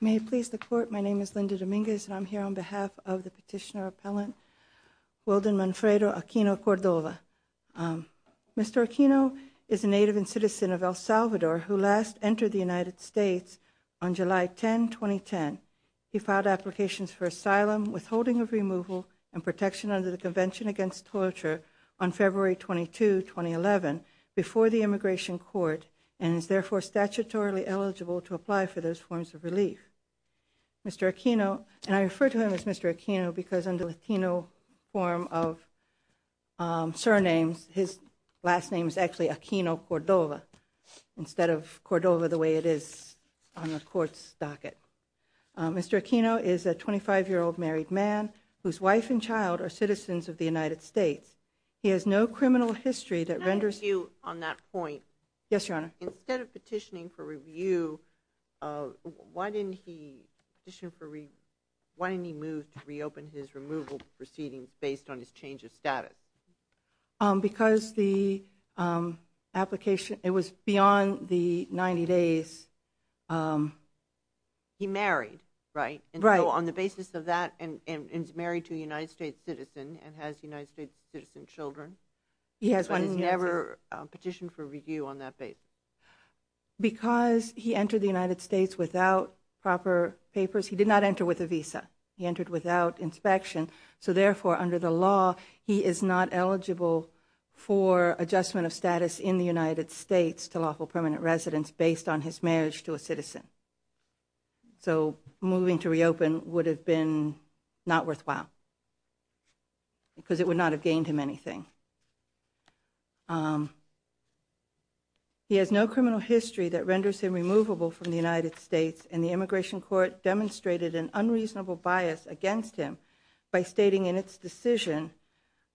May it please the Court, my name is Linda Dominguez and I'm here on behalf of the petitioner appellant, Wildon Manfredo Aquino Cordova. Mr. Aquino is a native and citizen of El Salvador who last entered the United States on July 10, 2010. He filed applications for asylum, withholding of removal, and protection under the Convention Against Torture on February 22, 2011 before the Immigration Court and is therefore statutorily eligible to apply for those forms of relief. Mr. Aquino, and I refer to him as Mr. Aquino because in the Latino form of surnames, his last name is actually Aquino Cordova instead of Cordova the way it is on the Court's docket. Mr. Aquino is a 25-year-old married man whose wife and child are citizens of the United States. He has no criminal history that renders him- Can I ask you on that point? Yes, Your Honor. Instead of petitioning for review, why didn't he petition for re- why didn't he move to reopen his removal proceedings based on his change of status? Because the application, it was beyond the 90 days. He married, right? Right. So on the basis of that and is married to a United States citizen and has United States citizen children- He has one- But he's never petitioned for review on that basis? Because he entered the United States without proper papers. He did not enter with a visa. He entered without inspection, so therefore under the law, he is not eligible for adjustment of status in the United States to lawful permanent residence based on his marriage to a citizen. So moving to reopen would have been not worthwhile because it would not have gained him anything. He has no criminal history that renders him removable from the United States and the Immigration Court demonstrated an unreasonable bias against him by stating in its decision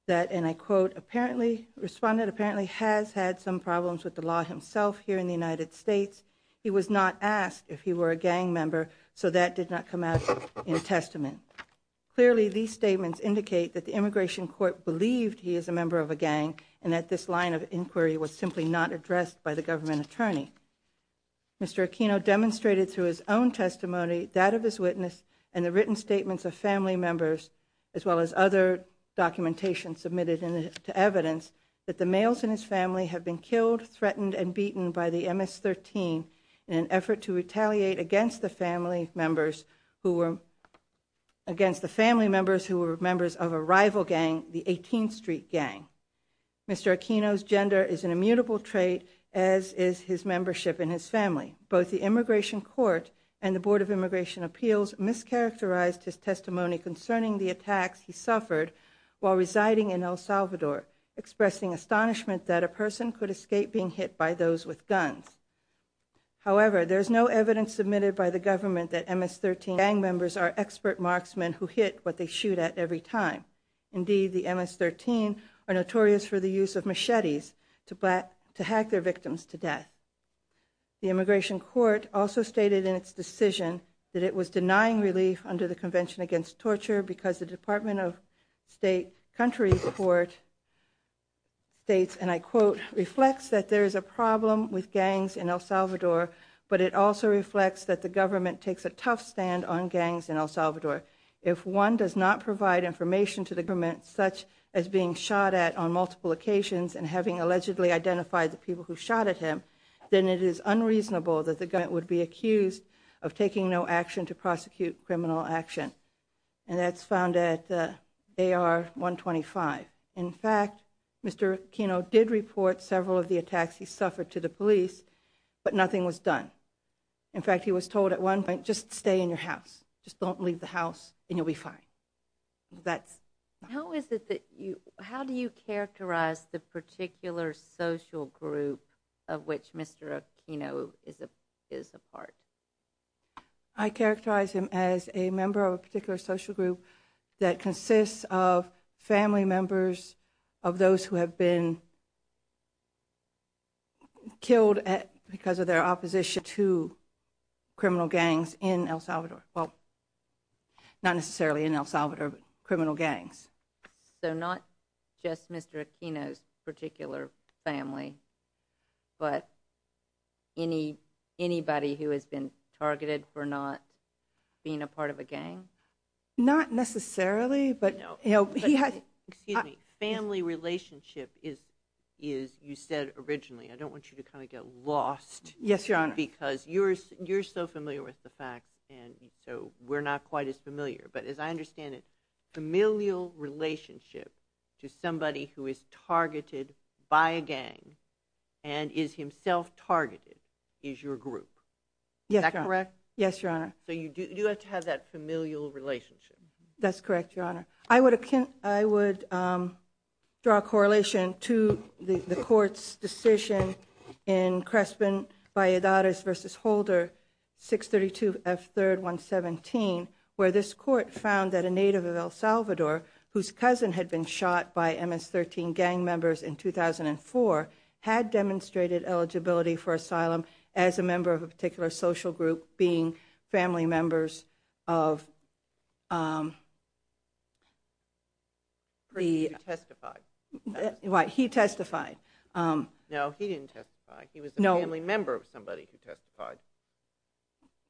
that, and I quote, apparently- Respondent apparently has had some problems with the law himself here in the United States. He was not asked if he were a gang member, so that did not come out in a testament. Clearly, these statements indicate that the Immigration Court believed he is a member of a gang and that this line of inquiry was simply not addressed by the government attorney. Mr. Aquino demonstrated through his own testimony that of his witness and the written statements of family members as well as other documentation submitted to evidence that the males in his family have been killed, threatened, and beaten by the MS-13 in an effort to retaliate against the family members who were- Against the family members who were members of a rival gang, the 18th Street Gang. Mr. Aquino's gender is an immutable trait as is his membership in his family. Both the Immigration Court and the Board of Immigration Appeals mischaracterized his testimony concerning the attacks he suffered while residing in El Salvador, expressing astonishment that a person could escape being hit by those with guns. However, there is no evidence submitted by the government that MS-13 gang members are expert marksmen who hit what they shoot at every time. Indeed, the MS-13 are notorious for the use of machetes to hack their victims to death. The Immigration Court also stated in its decision that it was denying relief under the Convention Against Torture because the Department of State Country Court states, and I quote, reflects that there is a problem with gangs in El Salvador, but it also reflects that the government takes a tough stand on gangs in El Salvador. If one does not provide information to the government, such as being shot at on multiple occasions and having allegedly identified the people who shot at him, then it is unreasonable that the government would be accused of taking no action to prosecute criminal action. And that's found at AR-125. In fact, Mr. Aquino did report several of the attacks he suffered to the police, but nothing was done. In fact, he was told at one point, just stay in your house. Just don't leave the house and you'll be fine. That's... How is it that you, how do you characterize the particular social group of which Mr. Aquino is a part? I characterize him as a member of a particular social group that consists of family members of those who have been killed because of their opposition to criminal gangs in El Salvador. Well, not necessarily in El Salvador, but criminal gangs. So not just Mr. Aquino's particular family, but anybody who has been targeted for not being a part of a gang? Not necessarily, but he has... Excuse me. Family relationship is, you said originally, I don't want you to kind of get lost. Yes, Your Honor. Because you're so familiar with the facts, and so we're not quite as familiar. But as I understand it, familial relationship to somebody who is targeted by a gang and is himself targeted is your group. Is that correct? Yes, Your Honor. So you do have to have that familial relationship. That's correct, Your Honor. I would draw a correlation to the court's decision in Crespin Valladares v. Holder, 632 F. 3rd, 117, where this court found that a native of El Salvador whose cousin had been shot by MS-13 gang members in 2004 had demonstrated eligibility for asylum as a member of a particular social group, being family members of the... He testified. Right, he testified. No, he didn't testify. He was a family member of somebody who testified.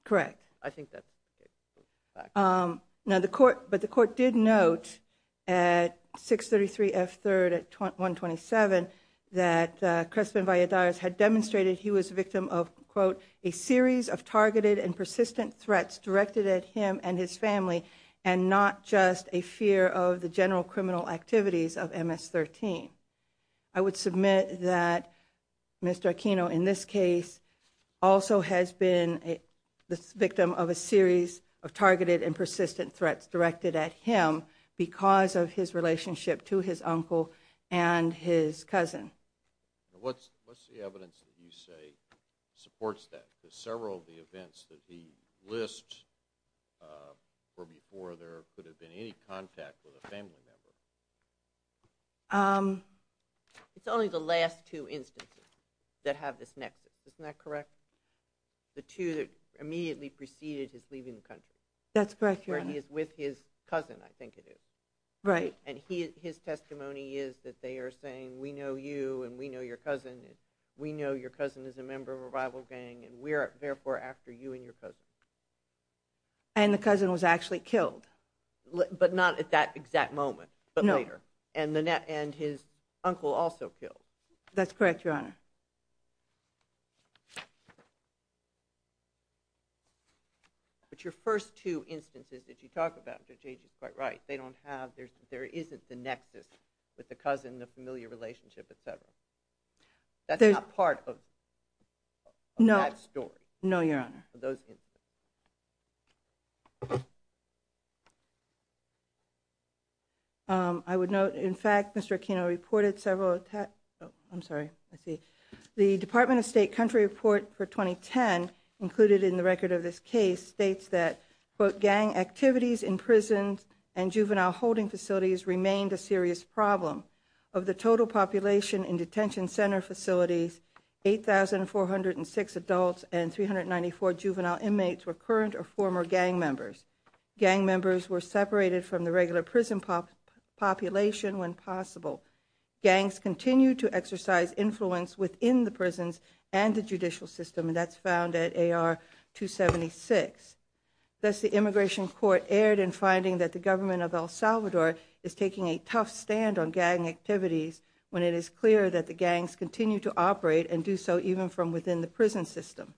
Correct. I think that's the case. But the court did note at 633 F. 3rd at 127 that Crespin Valladares had demonstrated he was a victim of, quote, a series of targeted and persistent threats directed at him and his family and not just a fear of the general criminal activities of MS-13. I would submit that Mr. Aquino in this case also has been the victim of a series of targeted and persistent threats directed at him because of his relationship to his uncle and his cousin. What's the evidence that you say supports that? There's several of the events that he lists where before there could have been any contact with a family member. It's only the last two instances that have this nexus, isn't that correct? The two that immediately preceded his leaving the country. That's correct, Your Honor. Where he is with his cousin, I think it is. Right. And his testimony is that they are saying, we know you and we know your cousin and we know your cousin is a member of a rival gang and we are therefore after you and your cousin. And the cousin was actually killed. But not at that exact moment, but later. And his uncle also killed. That's correct, Your Honor. But your first two instances that you talk about, Judge Agee, is quite right. They don't have, there isn't the nexus with the cousin, the familiar relationship, et cetera. That's not part of that story. No, Your Honor. Those instances. I would note, in fact, Mr. Aquino reported several attacks, I'm sorry, let's see. The Department of State country report for 2010 included in the record of this case states that, quote, gang activities in prisons and juvenile holding facilities remained a serious problem. Of the total population in detention center facilities, 8,406 adults and 394 juvenile inmates were current or former gang members. Gang members were separated from the regular prison population when possible. Gangs continue to exercise influence within the prisons and the judicial system, and that's found at AR-276. Thus, the immigration court erred in finding that the government of El Salvador is taking a tough stand on gang activities when it is clear that the gangs continue to operate and do so even from within the prison system.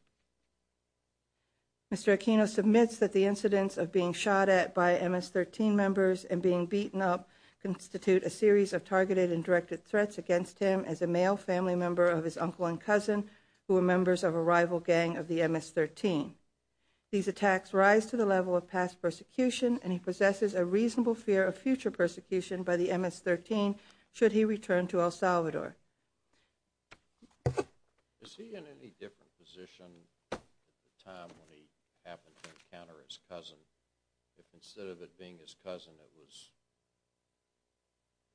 Mr. Aquino submits that the incidents of being shot at by MS-13 members and being beaten up constitute a series of targeted and directed threats against him as a male family member of his uncle and cousin who were members of a rival gang of the MS-13. These attacks rise to the level of past persecution, and he possesses a reasonable fear of future persecution by the MS-13 should he return to El Salvador. Is he in any different position at the time when he happened to encounter his cousin? If instead of it being his cousin, it was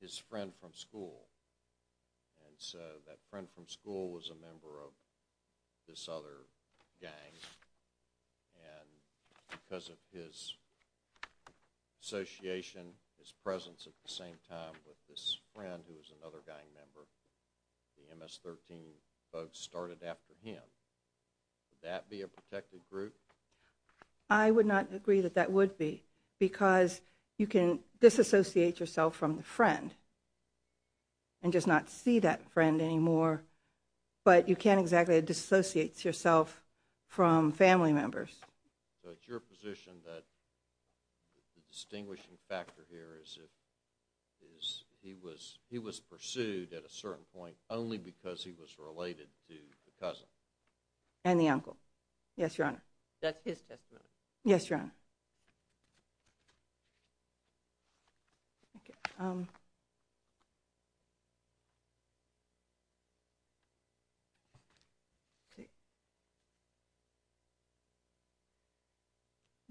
his friend from school, and so that friend from school was a member of this other gang, and because of his association, his presence at the same time with this friend who was another gang member, the MS-13 folks started after him. Would that be a protected group? I would not agree that that would be because you can disassociate yourself from the friend and just not see that friend anymore, but you can't exactly disassociate yourself from family members. So it's your position that the distinguishing factor here is he was pursued at a certain point only because he was related to the cousin? And the uncle. Yes, Your Honor. That's his testimony. Yes, Your Honor.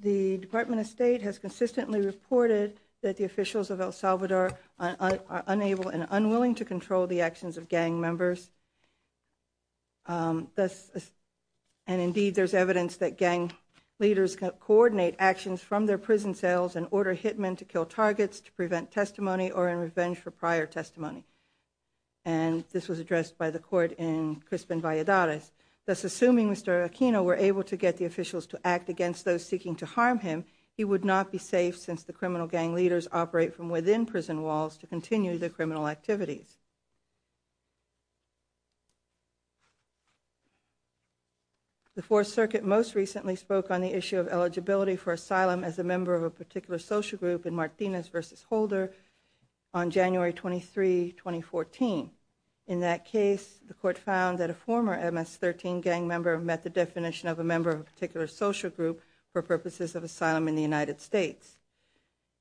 The Department of State has consistently reported that the officials of El Salvador are unable and unwilling to control the actions of gang members. And indeed, there's evidence that gang leaders coordinate actions from their prison cells and order hitmen to kill targets to prevent testimony or in revenge for prior testimony. And this was addressed by the court in Crispin Valladares. Thus, assuming Mr. Aquino were able to get the officials to act against those seeking to harm him, he would not be safe since the criminal gang leaders operate from within prison walls to continue their criminal activities. The Fourth Circuit most recently spoke on the issue of eligibility for asylum as a member of a particular social group in Martinez v. Holder on January 23, 2014. In that case, the court found that a former MS-13 gang member met the definition of a member of a particular social group for purposes of asylum in the United States.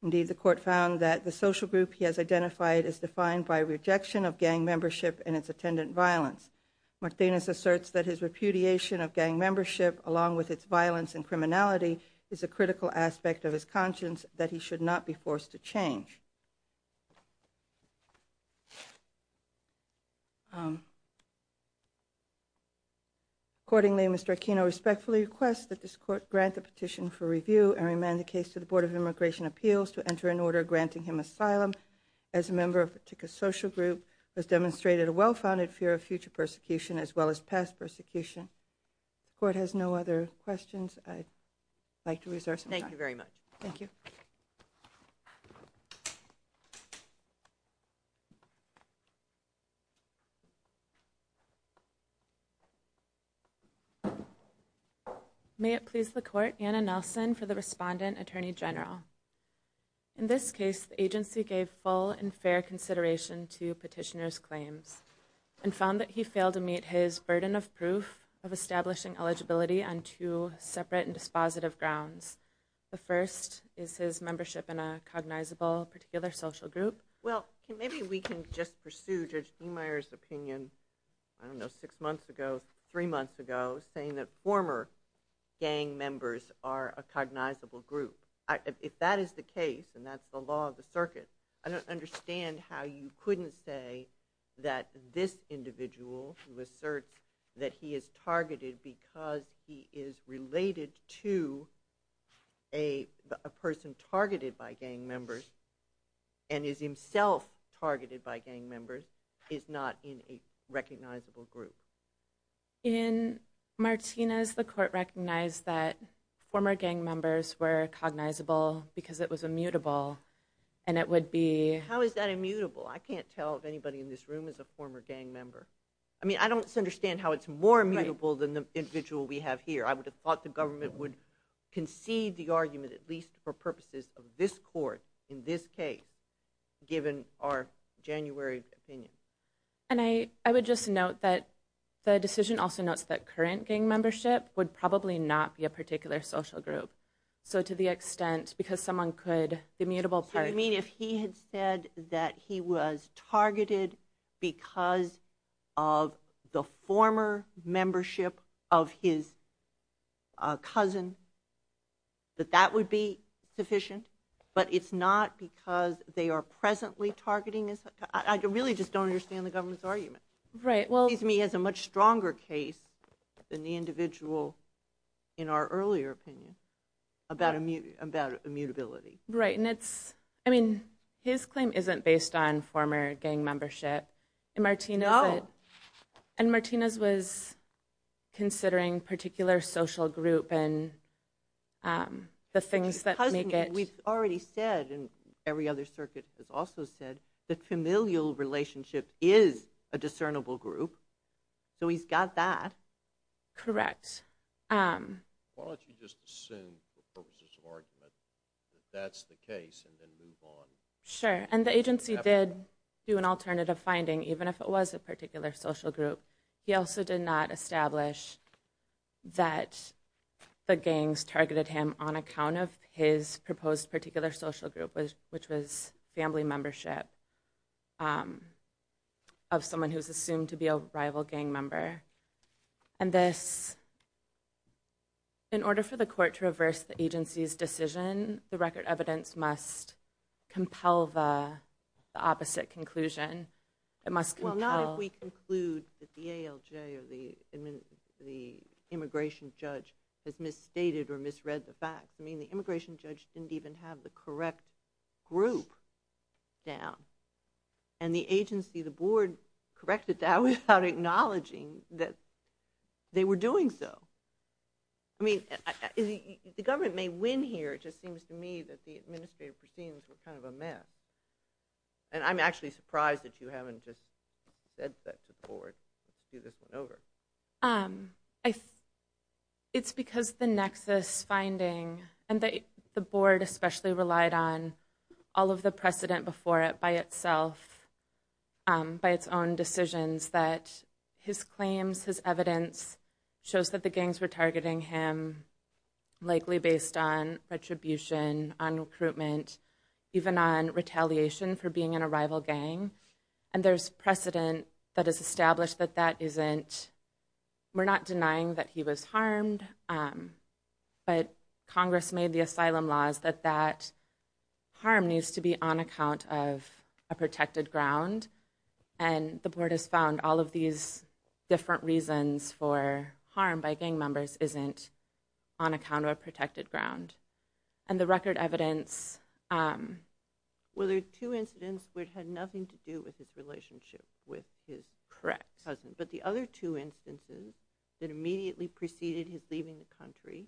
Indeed, the court found that the social group he has identified is defined by rejection of gang membership and its attendant violence. Martinez asserts that his repudiation of gang membership along with its violence and criminality is a critical aspect of his conscience that he should not be forced to change. Accordingly, Mr. Aquino respectfully requests that this court grant the petition for review and remand the case to the Board of Immigration Appeals to enter an order granting him asylum as a member of a particular social group as demonstrated a well-founded fear of future persecution as well as past persecution. The court has no other questions. I'd like to reserve some time. Thank you very much. Thank you. May it please the Court, Anna Nelson for the respondent, Attorney General. In this case, the agency gave full and fair consideration to petitioner's claims and found that he failed to meet his burden of proof of establishing eligibility on two separate and dispositive grounds. The first is his membership in a cognizable particular social group. Well, maybe we can just pursue Judge Ehmeyer's opinion, I don't know, six months ago, saying that former gang members are a cognizable group. If that is the case, and that's the law of the circuit, I don't understand how you couldn't say that this individual who asserts that he is targeted because he is related to a person targeted by gang members and is himself targeted by gang members is not in a recognizable group. In Martinez, the court recognized that former gang members were cognizable because it was immutable, and it would be... How is that immutable? I can't tell if anybody in this room is a former gang member. I mean, I don't understand how it's more immutable than the individual we have here. I would have thought the government would concede the argument, at least for purposes of this court in this case, given our January opinion. And I would just note that the decision also notes that current gang membership would probably not be a particular social group. So to the extent, because someone could, the immutable part... So you mean if he had said that he was targeted because of the former membership of his cousin, that that would be sufficient? But it's not because they are presently targeting... I really just don't understand the government's argument. Right, well... It seems to me as a much stronger case than the individual in our earlier opinion about immutability. Right, and it's, I mean, his claim isn't based on former gang membership. Oh. And Martinez was considering particular social group and the things that make it... We've already said, and every other circuit has also said, that familial relationship is a discernible group. So he's got that. Correct. Why don't you just assume, for purposes of argument, that that's the case and then move on? Sure, and the agency did do an alternative finding, even if it was a particular social group. He also did not establish that the gangs targeted him on account of his proposed particular social group, which was family membership of someone who's assumed to be a rival gang member. And this, in order for the court to reverse the agency's decision, the record evidence must compel the opposite conclusion. It must compel... Well, not if we conclude that the ALJ or the immigration judge has misstated or misread the facts. I mean, the immigration judge didn't even have the correct group down. And the agency, the board, corrected that without acknowledging that they were doing so. I mean, the government may win here. It just seems to me that the administrative proceedings were kind of a mess. And I'm actually surprised that you haven't just said that to the board. Let's do this one over. It's because the nexus finding and the board especially relied on all of the precedent before it by itself, by its own decisions, that his claims, his evidence, shows that the gangs were targeting him likely based on retribution, on recruitment, even on retaliation for being in a rival gang. And there's precedent that has established that that isn't... We're not denying that he was harmed. But Congress made the asylum laws that that harm needs to be on account of a protected ground. And the board has found all of these different reasons for harm by gang members isn't on account of a protected ground. And the record evidence... Well, there are two incidents which had nothing to do with his relationship with his cousin. But the other two instances that immediately preceded his leaving the country,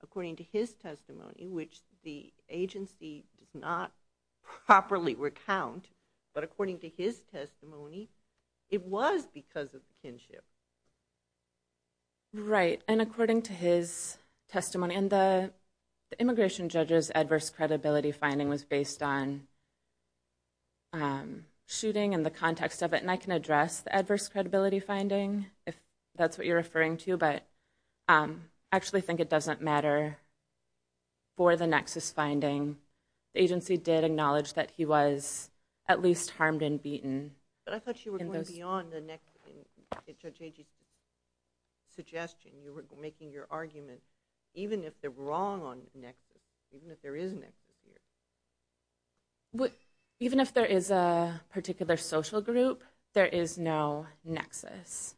according to his testimony, which the agency does not properly recount, but according to his testimony, it was because of the kinship. Right. And according to his testimony... The immigration judge's adverse credibility finding was based on shooting and the context of it. And I can address the adverse credibility finding if that's what you're referring to, but I actually think it doesn't matter for the nexus finding. The agency did acknowledge that he was at least harmed and beaten. But I thought you were going beyond the judge's suggestion. You were making your argument even if they're wrong on nexus, even if there is a nexus here. Even if there is a particular social group, there is no nexus.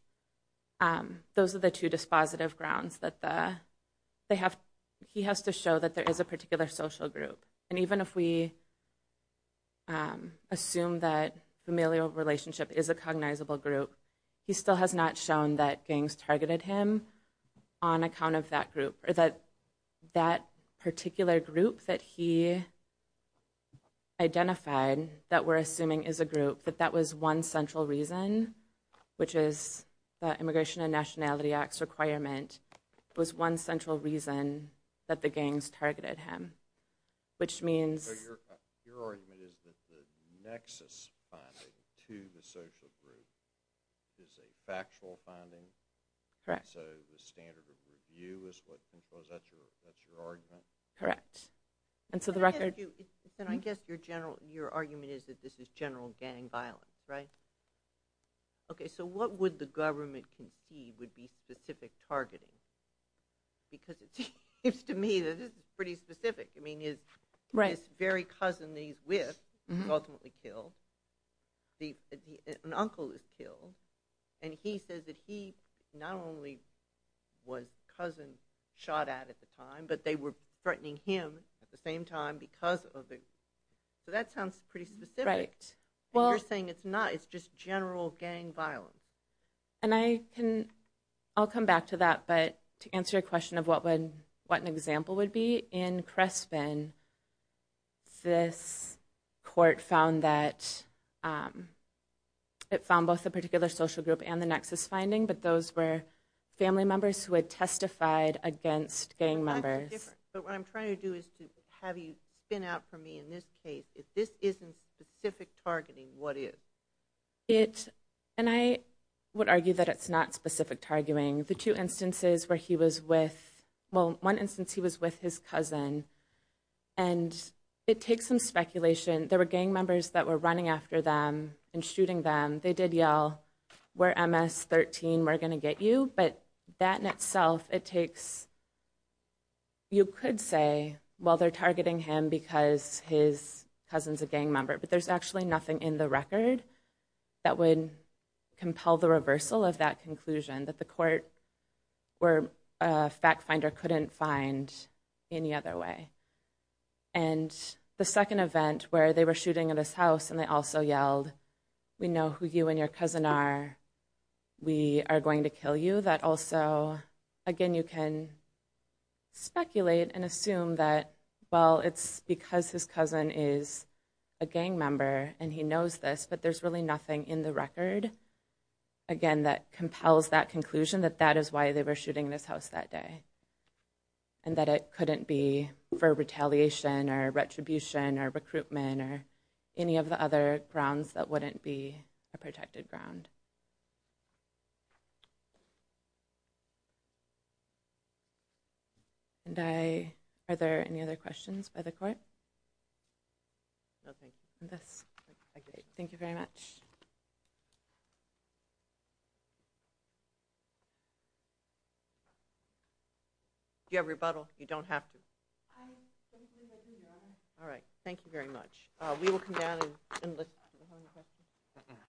Those are the two dispositive grounds that he has to show that there is a particular social group. And even if we assume that familial relationship is a cognizable group, he still has not shown that gangs targeted him on account of that group, or that that particular group that he identified that we're assuming is a group, that that was one central reason, which is the Immigration and Nationality Act's requirement, was one central reason that the gangs targeted him, which means... So your argument is that the nexus finding to the social group is a factual finding? Correct. So the standard of review is what controls, that's your argument? Correct. And so the record... Then I guess your argument is that this is general gang violence, right? Okay, so what would the government concede would be specific targeting? Because it seems to me that this is pretty specific. I mean, his very cousin that he's with was ultimately killed. An uncle was killed. And he says that he not only was the cousin shot at at the time, but they were threatening him at the same time because of it. So that sounds pretty specific. Right. And you're saying it's not, it's just general gang violence. And I can, I'll come back to that, but to answer your question of what an example would be, in Crespen this court found that, it found both the particular social group and the nexus finding, but those were family members who had testified against gang members. But what I'm trying to do is to have you spin out for me in this case. If this isn't specific targeting, what is? It, and I would argue that it's not specific targeting. The two instances where he was with, well, one instance he was with his cousin. And it takes some speculation. There were gang members that were running after them and shooting them. They did yell, we're MS-13, we're going to get you. But that in itself, it takes, you could say, well, they're targeting him because his cousin's a gang member. But there's actually nothing in the record that would compel the reversal of that conclusion, that the court or fact finder couldn't find any other way. And the second event where they were shooting at his house and they also yelled, we know who you and your cousin are. We are going to kill you. That also, again, you can speculate and assume that, well, it's because his cousin is a gang member and he knows this, but there's really nothing in the record, again, that compels that conclusion, that that is why they were shooting in his house that day. And that it couldn't be for retaliation or retribution or recruitment or any of the other grounds that wouldn't be a protected ground. And are there any other questions by the court? No, thank you. Thank you very much. Do you have rebuttal? You don't have to. I don't think I do, Your Honor. All right. Thank you very much. We will come down and listen. Do you have any questions?